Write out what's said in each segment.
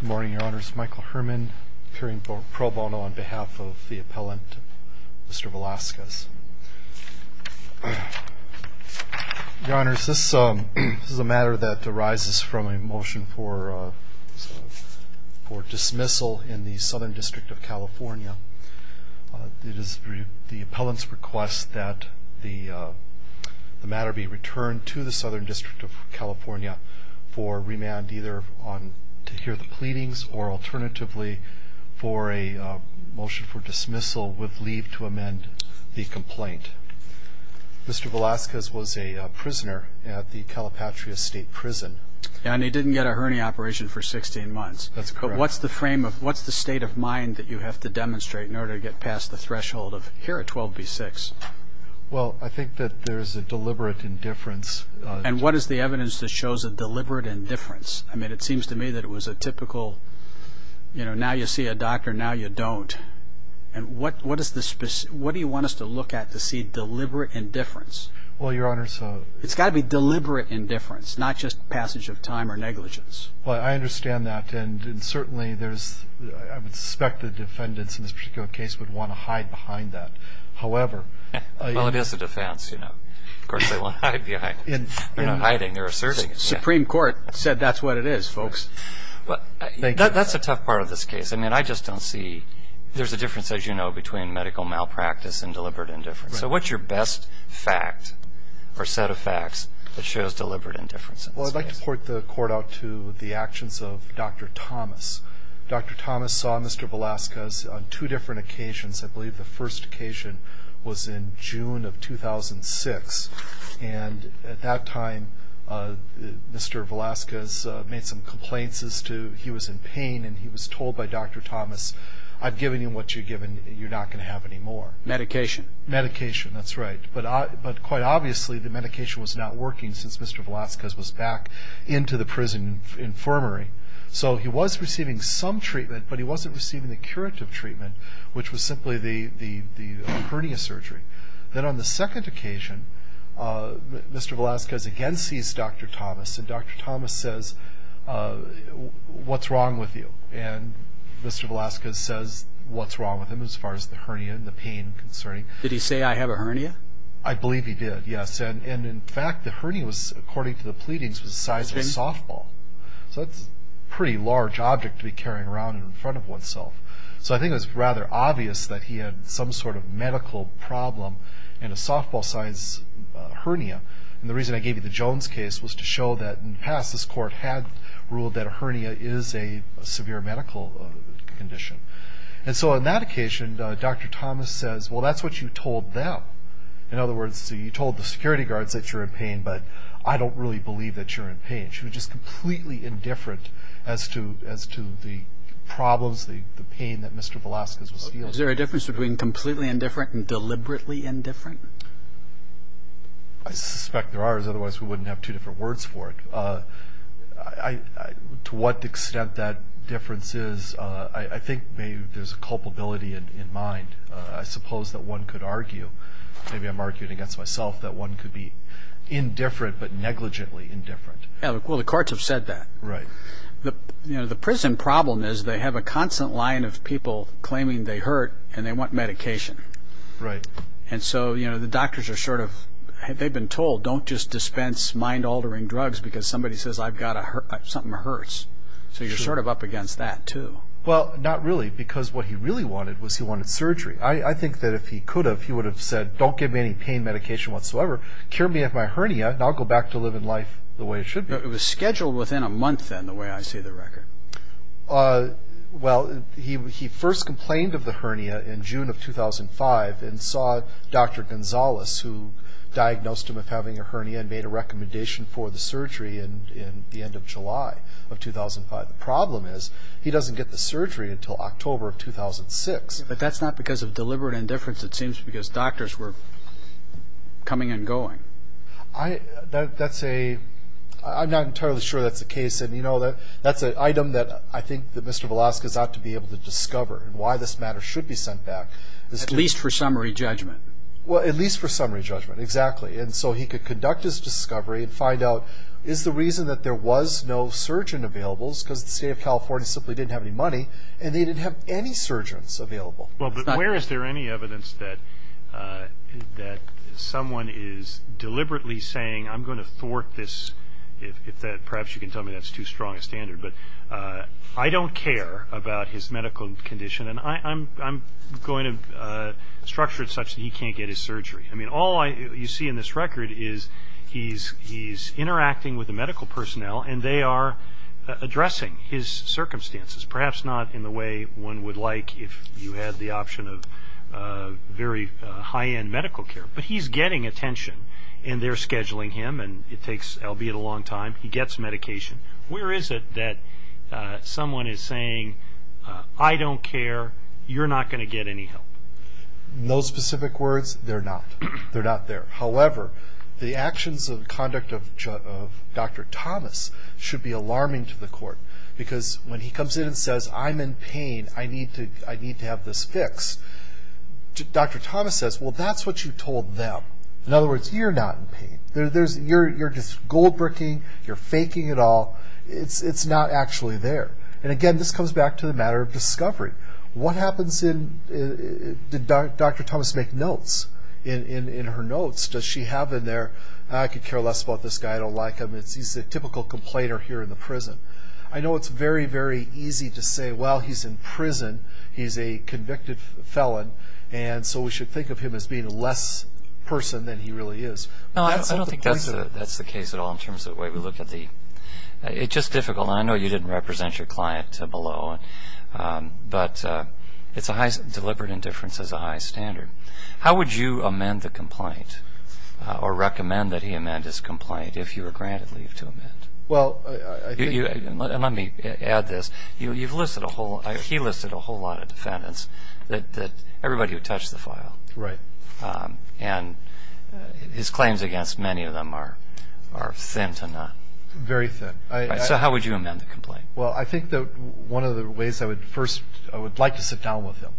Good morning, your honors. Michael Herrmann, appearing pro bono on behalf of the appellant, Mr. Velasquez. Your honors, this is a matter that arises from a motion for dismissal in the Southern District of California. It is the appellant's request that the matter be returned to the Southern District of California for remand either to hear the pleadings or alternatively for a motion for dismissal with leave to amend the complaint. Mr. Velasquez was a prisoner at the Calipatria State Prison. And he didn't get a hernia operation for 16 months. That's correct. What's the state of mind that you have to demonstrate in order to get past the threshold of here at 12B6? Well, I think that there's a deliberate indifference. And what is the evidence that shows a deliberate indifference? I mean, it seems to me that it was a typical, you know, now you see a doctor, now you don't. And what do you want us to look at to see deliberate indifference? Well, your honors, it's got to be deliberate indifference, not just passage of time or negligence. Well, I understand that. And certainly, I would suspect the defendants in this particular case would want to hide behind that. Well, it is a defense, you know. Of course, they won't hide behind it. They're not hiding, they're asserting it. The Supreme Court said that's what it is, folks. That's a tough part of this case. I mean, I just don't see there's a difference, as you know, between medical malpractice and deliberate indifference. So what's your best fact or set of facts that shows deliberate indifference? Well, I'd like to port the court out to the actions of Dr. Thomas. Dr. Thomas saw Mr. Velasquez on two different occasions. I believe the first occasion was in June of 2006. And at that time, Mr. Velasquez made some complaints as to he was in pain, and he was told by Dr. Thomas, I've given you what you've given, you're not going to have anymore. Medication. Medication, that's right. But quite obviously, the medication was not working since Mr. Velasquez was back into the prison infirmary. So he was receiving some treatment, but he wasn't receiving the curative treatment, which was simply the hernia surgery. Then on the second occasion, Mr. Velasquez again sees Dr. Thomas, and Dr. Thomas says, what's wrong with you? And Mr. Velasquez says, what's wrong with him as far as the hernia and the pain concerning? Did he say, I have a hernia? I believe he did, yes. And in fact, the hernia was, according to the pleadings, was the size of a softball. So that's a pretty large object to be carrying around in front of oneself. So I think it was rather obvious that he had some sort of medical problem and a softball-sized hernia. And the reason I gave you the Jones case was to show that in the past, this court had ruled that a hernia is a severe medical condition. And so on that occasion, Dr. Thomas says, well, that's what you told them. In other words, you told the security guards that you're in pain, and she was just completely indifferent as to the problems, the pain that Mr. Velasquez was feeling. Is there a difference between completely indifferent and deliberately indifferent? I suspect there are, otherwise we wouldn't have two different words for it. To what extent that difference is, I think maybe there's a culpability in mind. I suppose that one could argue, maybe I'm arguing against myself, that one could be indifferent but negligently indifferent. Well, the courts have said that. Right. The prison problem is they have a constant line of people claiming they hurt and they want medication. Right. And so the doctors are sort of, they've been told, don't just dispense mind-altering drugs because somebody says something hurts. So you're sort of up against that, too. Well, not really, because what he really wanted was he wanted surgery. I think that if he could have, he would have said, don't give me any pain medication whatsoever, cure me of my hernia, and I'll go back to living life the way it should be. It was scheduled within a month, then, the way I see the record. Well, he first complained of the hernia in June of 2005 and saw Dr. Gonzalez, who diagnosed him with having a hernia and made a recommendation for the surgery in the end of July of 2005. The problem is he doesn't get the surgery until October of 2006. But that's not because of deliberate indifference. It seems because doctors were coming and going. That's a, I'm not entirely sure that's the case. And, you know, that's an item that I think that Mr. Velasquez ought to be able to discover and why this matter should be sent back. At least for summary judgment. Well, at least for summary judgment, exactly. And so he could conduct his discovery and find out, is the reason that there was no surgeon available is because the state of California simply didn't have any money and they didn't have any surgeons available. Well, but where is there any evidence that someone is deliberately saying, I'm going to thwart this, perhaps you can tell me that's too strong a standard, but I don't care about his medical condition and I'm going to structure it such that he can't get his surgery. I mean, all you see in this record is he's interacting with the medical personnel and they are addressing his circumstances, perhaps not in the way one would like if you had the option of very high-end medical care. But he's getting attention and they're scheduling him and it takes, albeit a long time, he gets medication. Where is it that someone is saying, I don't care, you're not going to get any help? No specific words, they're not. They're not there. However, the actions and conduct of Dr. Thomas should be alarming to the court because when he comes in and says, I'm in pain, I need to have this fixed, Dr. Thomas says, well, that's what you told them. In other words, you're not in pain. You're just gold-bricking, you're faking it all, it's not actually there. And again, this comes back to the matter of discovery. What happens in, did Dr. Thomas make notes in her notes? Does she have in there, I could care less about this guy, I don't like him, he's a typical complainer here in the prison. I know it's very, very easy to say, well, he's in prison, he's a convicted felon, and so we should think of him as being a less person than he really is. No, I don't think that's the case at all in terms of the way we look at the, it's just difficult, and I know you didn't represent your client below, but deliberate indifference is a high standard. How would you amend the complaint or recommend that he amend his complaint if you were granted leave to amend? Well, I think. Let me add this. You've listed a whole, he listed a whole lot of defendants, everybody who touched the file. Right. And his claims against many of them are thin to none. Very thin. So how would you amend the complaint? Well, I think that one of the ways I would first, I would like to sit down with him.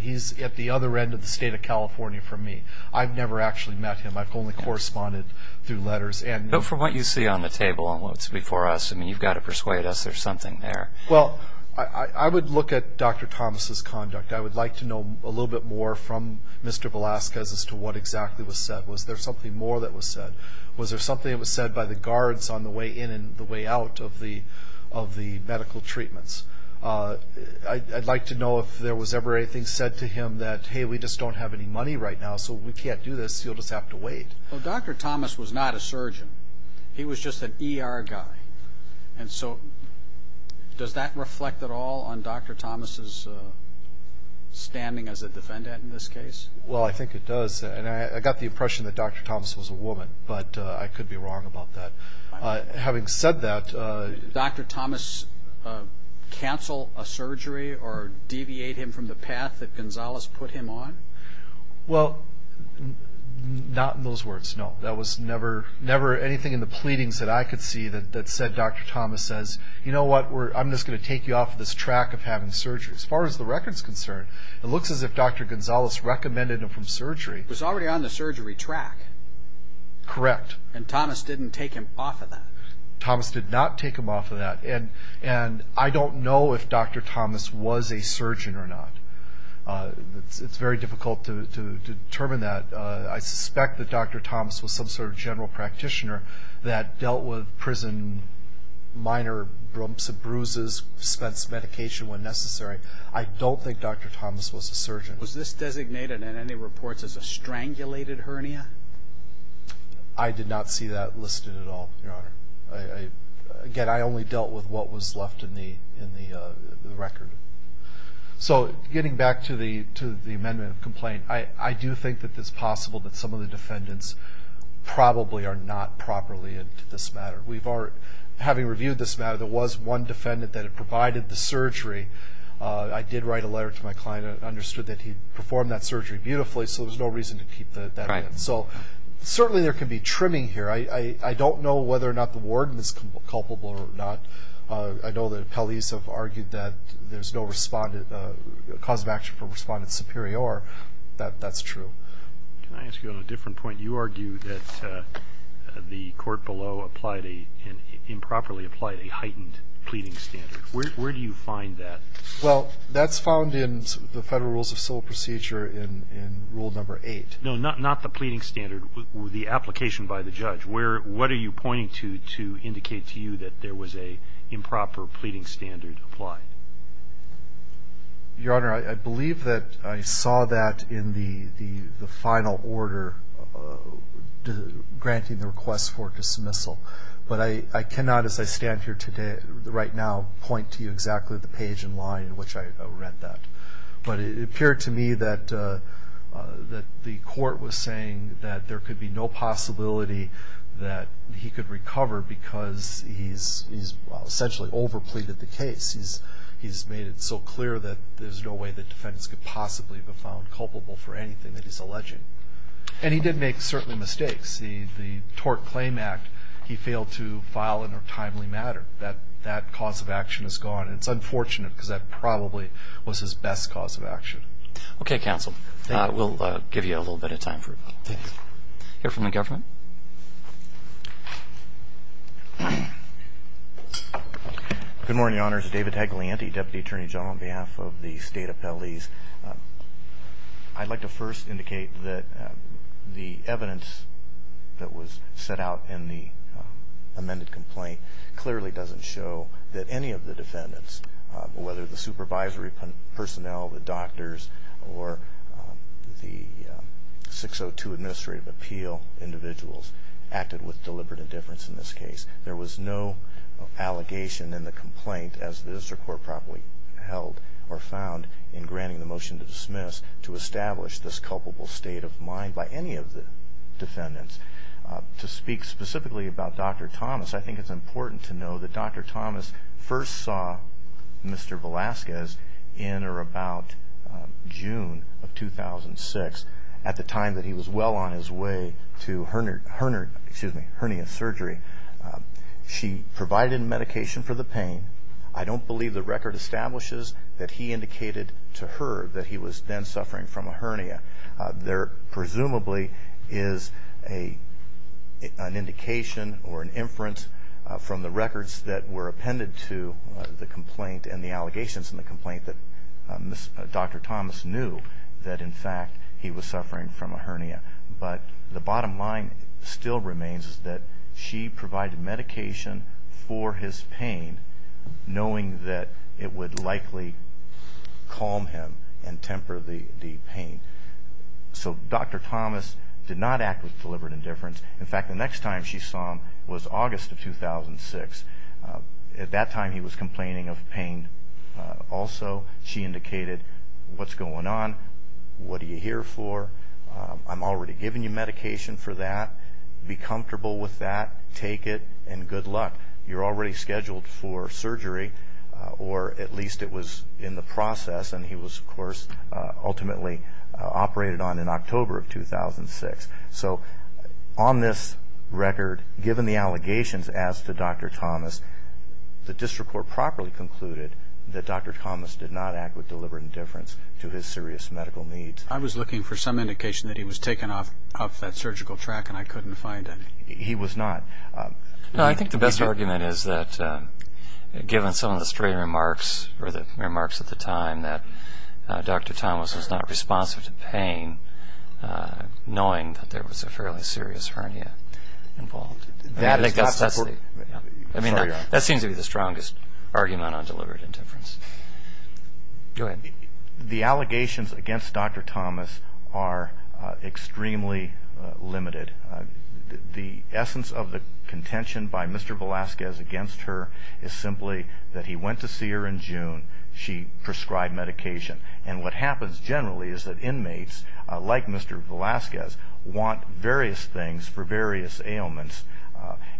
He's at the other end of the state of California from me. I've never actually met him. I've only corresponded through letters. But from what you see on the table and what's before us, I mean, you've got to persuade us there's something there. Well, I would look at Dr. Thomas' conduct. I would like to know a little bit more from Mr. Velasquez as to what exactly was said. Was there something more that was said? Was there something that was said by the guards on the way in and the way out of the medical treatments? I'd like to know if there was ever anything said to him that, hey, we just don't have any money right now, so we can't do this, you'll just have to wait. Well, Dr. Thomas was not a surgeon. He was just an ER guy. And so does that reflect at all on Dr. Thomas' standing as a defendant in this case? Well, I think it does. And I got the impression that Dr. Thomas was a woman, but I could be wrong about that. Having said that, Did Dr. Thomas cancel a surgery or deviate him from the path that Gonzales put him on? Well, not in those words, no. There was never anything in the pleadings that I could see that said Dr. Thomas says, you know what, I'm just going to take you off this track of having surgery. As far as the record is concerned, it looks as if Dr. Gonzales recommended him from surgery. He was already on the surgery track. Correct. And Thomas didn't take him off of that. Thomas did not take him off of that. And I don't know if Dr. Thomas was a surgeon or not. It's very difficult to determine that. I suspect that Dr. Thomas was some sort of general practitioner that dealt with prison minor brumps and bruises, spent medication when necessary. I don't think Dr. Thomas was a surgeon. Was this designated in any reports as a strangulated hernia? I did not see that listed at all, Your Honor. Again, I only dealt with what was left in the record. So getting back to the amendment of complaint, I do think that it's possible that some of the defendants probably are not properly into this matter. Having reviewed this matter, there was one defendant that had provided the surgery. I did write a letter to my client. I understood that he performed that surgery beautifully, so there's no reason to keep that in. So certainly there can be trimming here. I don't know whether or not the warden is culpable or not. I know that appellees have argued that there's no cause of action for respondent superior. That's true. Can I ask you on a different point? You argue that the court below improperly applied a heightened pleading standard. Where do you find that? Well, that's found in the Federal Rules of Civil Procedure in Rule No. 8. No, not the pleading standard, the application by the judge. What are you pointing to to indicate to you that there was an improper pleading standard applied? Your Honor, I believe that I saw that in the final order granting the request for dismissal. But I cannot, as I stand here right now, point to you exactly the page and line in which I read that. But it appeared to me that the court was saying that there could be no possibility that he could recover because he's essentially overpleaded the case. He's made it so clear that there's no way that defendants could possibly have been found culpable for anything that he's alleging. And he did make certain mistakes. The tort claim act, he failed to file in a timely manner. That cause of action is gone. And it's unfortunate because that probably was his best cause of action. Okay, counsel. We'll give you a little bit of time. Hear from the government. Good morning, Your Honors. David Hagelianti, Deputy Attorney General on behalf of the State Appellees. I'd like to first indicate that the evidence that was set out in the amended complaint clearly doesn't show that any of the defendants, whether the supervisory personnel, the doctors, or the 602 Administrative Appeal individuals, acted with deliberate indifference in this case. There was no allegation in the complaint, as the district court properly held or found, in granting the motion to dismiss to establish this culpable state of mind by any of the defendants. To speak specifically about Dr. Thomas, I think it's important to know that Dr. Thomas first saw Mr. Velasquez in or about June of 2006, at the time that he was well on his way to hernia surgery. She provided medication for the pain. I don't believe the record establishes that he indicated to her that he was then suffering from a hernia. There presumably is an indication or an inference from the records that were appended to the complaint and the allegations in the complaint that Dr. Thomas knew that, in fact, he was suffering from a hernia. But the bottom line still remains that she provided medication for his pain, knowing that it would likely calm him and temper the pain. So Dr. Thomas did not act with deliberate indifference. In fact, the next time she saw him was August of 2006. At that time, he was complaining of pain also. She indicated, what's going on? What are you here for? I'm already giving you medication for that. Be comfortable with that. Take it, and good luck. You're already scheduled for surgery, or at least it was in the process, and he was, of course, ultimately operated on in October of 2006. So on this record, given the allegations as to Dr. Thomas, the district court properly concluded that Dr. Thomas did not act with deliberate indifference to his serious medical needs. I was looking for some indication that he was taken off that surgical track, and I couldn't find it. He was not. I think the best argument is that given some of the straight remarks or the remarks at the time that Dr. Thomas was not responsive to pain, knowing that there was a fairly serious hernia involved. That seems to be the strongest argument on deliberate indifference. Go ahead. The allegations against Dr. Thomas are extremely limited. The essence of the contention by Mr. Velasquez against her is simply that he went to see her in June, she prescribed medication, and what happens generally is that inmates like Mr. Velasquez want various things for various ailments,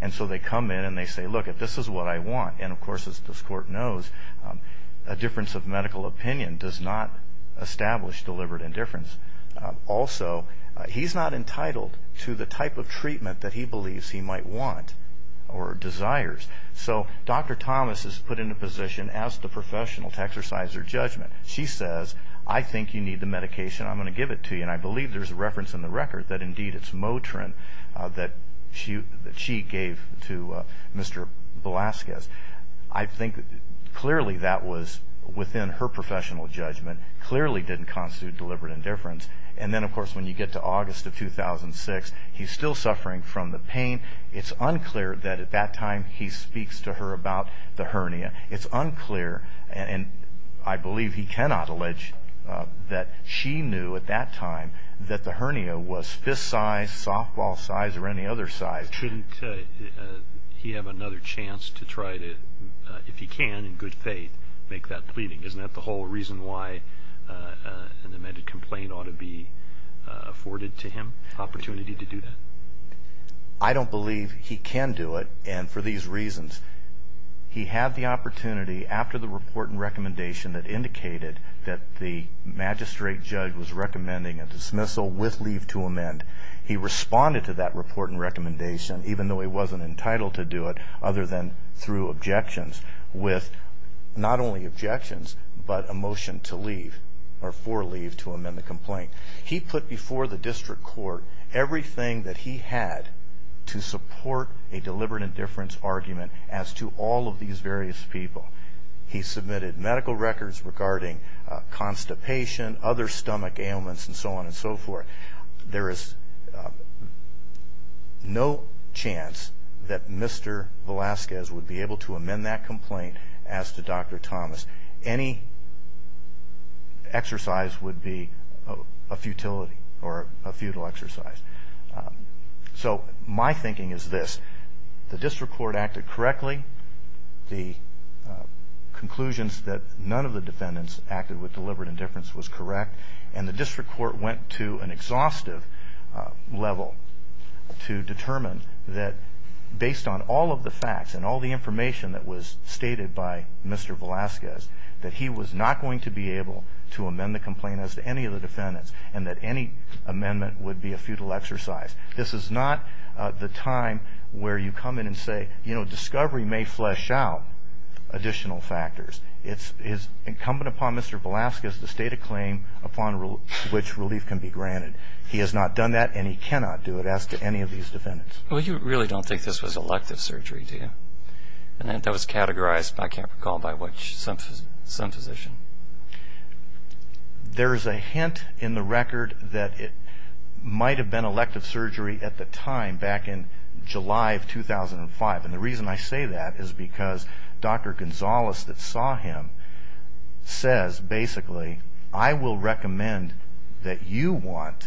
and so they come in and they say, look, if this is what I want, and of course as this court knows, a difference of medical opinion does not establish deliberate indifference. Also, he's not entitled to the type of treatment that he believes he might want or desires. So Dr. Thomas is put in a position as the professional to exercise her judgment. She says, I think you need the medication, I'm going to give it to you, and I believe there's a reference in the record that indeed it's Motrin that she gave to Mr. Velasquez. I think clearly that was within her professional judgment, clearly didn't constitute deliberate indifference, and then of course when you get to August of 2006, he's still suffering from the pain. It's unclear that at that time he speaks to her about the hernia. It's unclear, and I believe he cannot allege that she knew at that time that the hernia was fist size, softball size, or any other size. Shouldn't he have another chance to try to, if he can, in good faith, make that pleading? Isn't that the whole reason why an amended complaint ought to be afforded to him, an opportunity to do that? I don't believe he can do it, and for these reasons. He had the opportunity after the report and recommendation that indicated that the magistrate judge was recommending a dismissal with leave to amend. He responded to that report and recommendation, even though he wasn't entitled to do it, other than through objections, with not only objections, but a motion to leave, or for leave to amend the complaint. He put before the district court everything that he had to support a deliberate indifference argument as to all of these various people. He submitted medical records regarding constipation, other stomach ailments, and so on and so forth. There is no chance that Mr. Velazquez would be able to amend that complaint as to Dr. Thomas. Any exercise would be a futility or a futile exercise. So my thinking is this. The district court acted correctly. The conclusions that none of the defendants acted with deliberate indifference was correct, and the district court went to an exhaustive level to determine that based on all of the facts and all of the information that was stated by Mr. Velazquez, that he was not going to be able to amend the complaint as to any of the defendants, and that any amendment would be a futile exercise. This is not the time where you come in and say, you know, discovery may flesh out additional factors. It is incumbent upon Mr. Velazquez to state a claim upon which relief can be granted. He has not done that, and he cannot do it as to any of these defendants. Well, you really don't think this was elective surgery, do you? And that was categorized, I can't recall by which, some physician. There is a hint in the record that it might have been elective surgery at the time back in July of 2005, and the reason I say that is because Dr. Gonzalez that saw him says basically, I will recommend that you want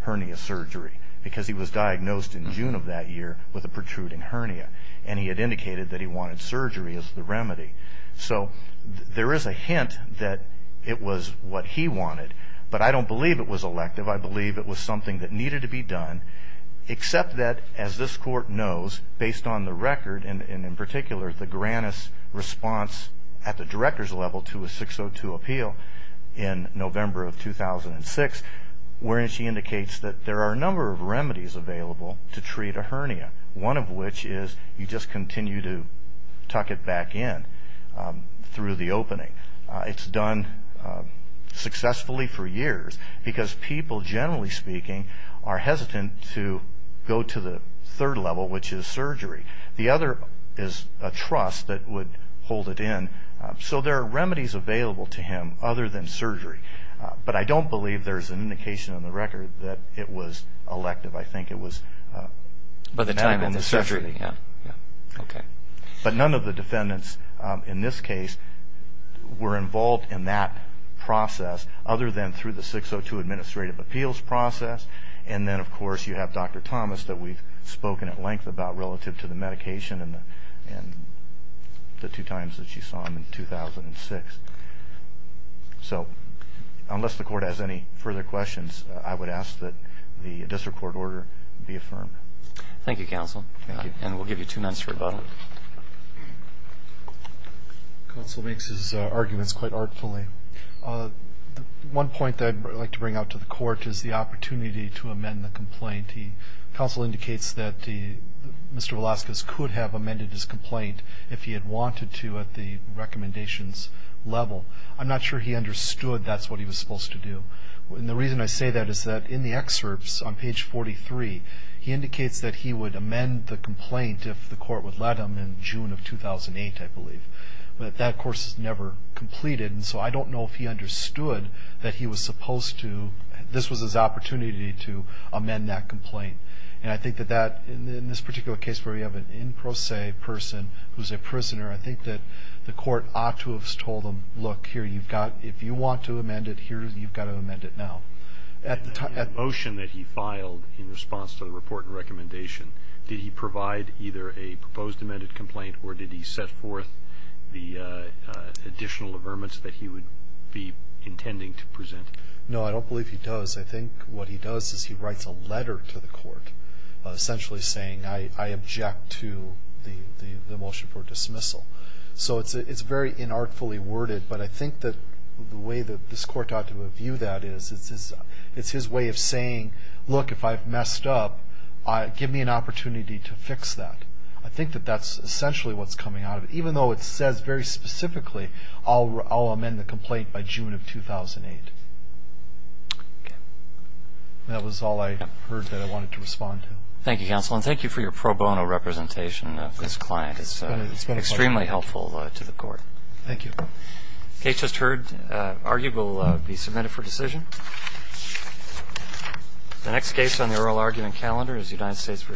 hernia surgery, because he was diagnosed in June of that year with a protruding hernia, and he had indicated that he wanted surgery as the remedy. So there is a hint that it was what he wanted, but I don't believe it was elective. I believe it was something that needed to be done, except that, as this court knows, based on the record, and in particular the Grannis response at the director's level to a 602 appeal in November of 2006, where she indicates that there are a number of remedies available to treat a hernia, one of which is you just continue to tuck it back in through the opening. It's done successfully for years, because people, generally speaking, are hesitant to go to the third level, which is surgery. The other is a truss that would hold it in. So there are remedies available to him other than surgery, but I don't believe there's an indication on the record that it was elective. I think it was done on the surgery. But none of the defendants in this case were involved in that process, other than through the 602 administrative appeals process, and then, of course, you have Dr. Thomas that we've spoken at length about relative to the medication and the two times that she saw him in 2006. So unless the court has any further questions, I would ask that the district court order be affirmed. Thank you, counsel, and we'll give you two minutes for rebuttal. Counsel makes his arguments quite artfully. One point that I'd like to bring out to the court is the opportunity to amend the complaint. Counsel indicates that Mr. Velazquez could have amended his complaint if he had wanted to at the recommendations level. I'm not sure he understood that's what he was supposed to do. And the reason I say that is that in the excerpts on page 43, he indicates that he would amend the complaint if the court would let him in June of 2008, I believe. But that, of course, is never completed, and so I don't know if he understood that he was supposed to, this was his opportunity to amend that complaint. And I think that that, in this particular case where we have an in pro se person who's a prisoner, I think that the court ought to have told him, look, here, you've got, if you want to amend it here, you've got to amend it now. At the time of the motion that he filed in response to the report and recommendation, did he provide either a proposed amended complaint or did he set forth the additional averments that he would be intending to present? No, I don't believe he does. I think what he does is he writes a letter to the court essentially saying, I object to the motion for dismissal. So it's very inartfully worded, but I think that the way that this court ought to view that is it's his way of saying, look, if I've messed up, give me an opportunity to fix that. I think that that's essentially what's coming out of it, even though it says very specifically I'll amend the complaint by June of 2008. That was all I heard that I wanted to respond to. Thank you, counsel, and thank you for your pro bono representation of this client. It's been a pleasure. It's been extremely helpful to the court. Thank you. The case just heard argued will be submitted for decision. The next case on the oral argument calendar is United States v. Welker.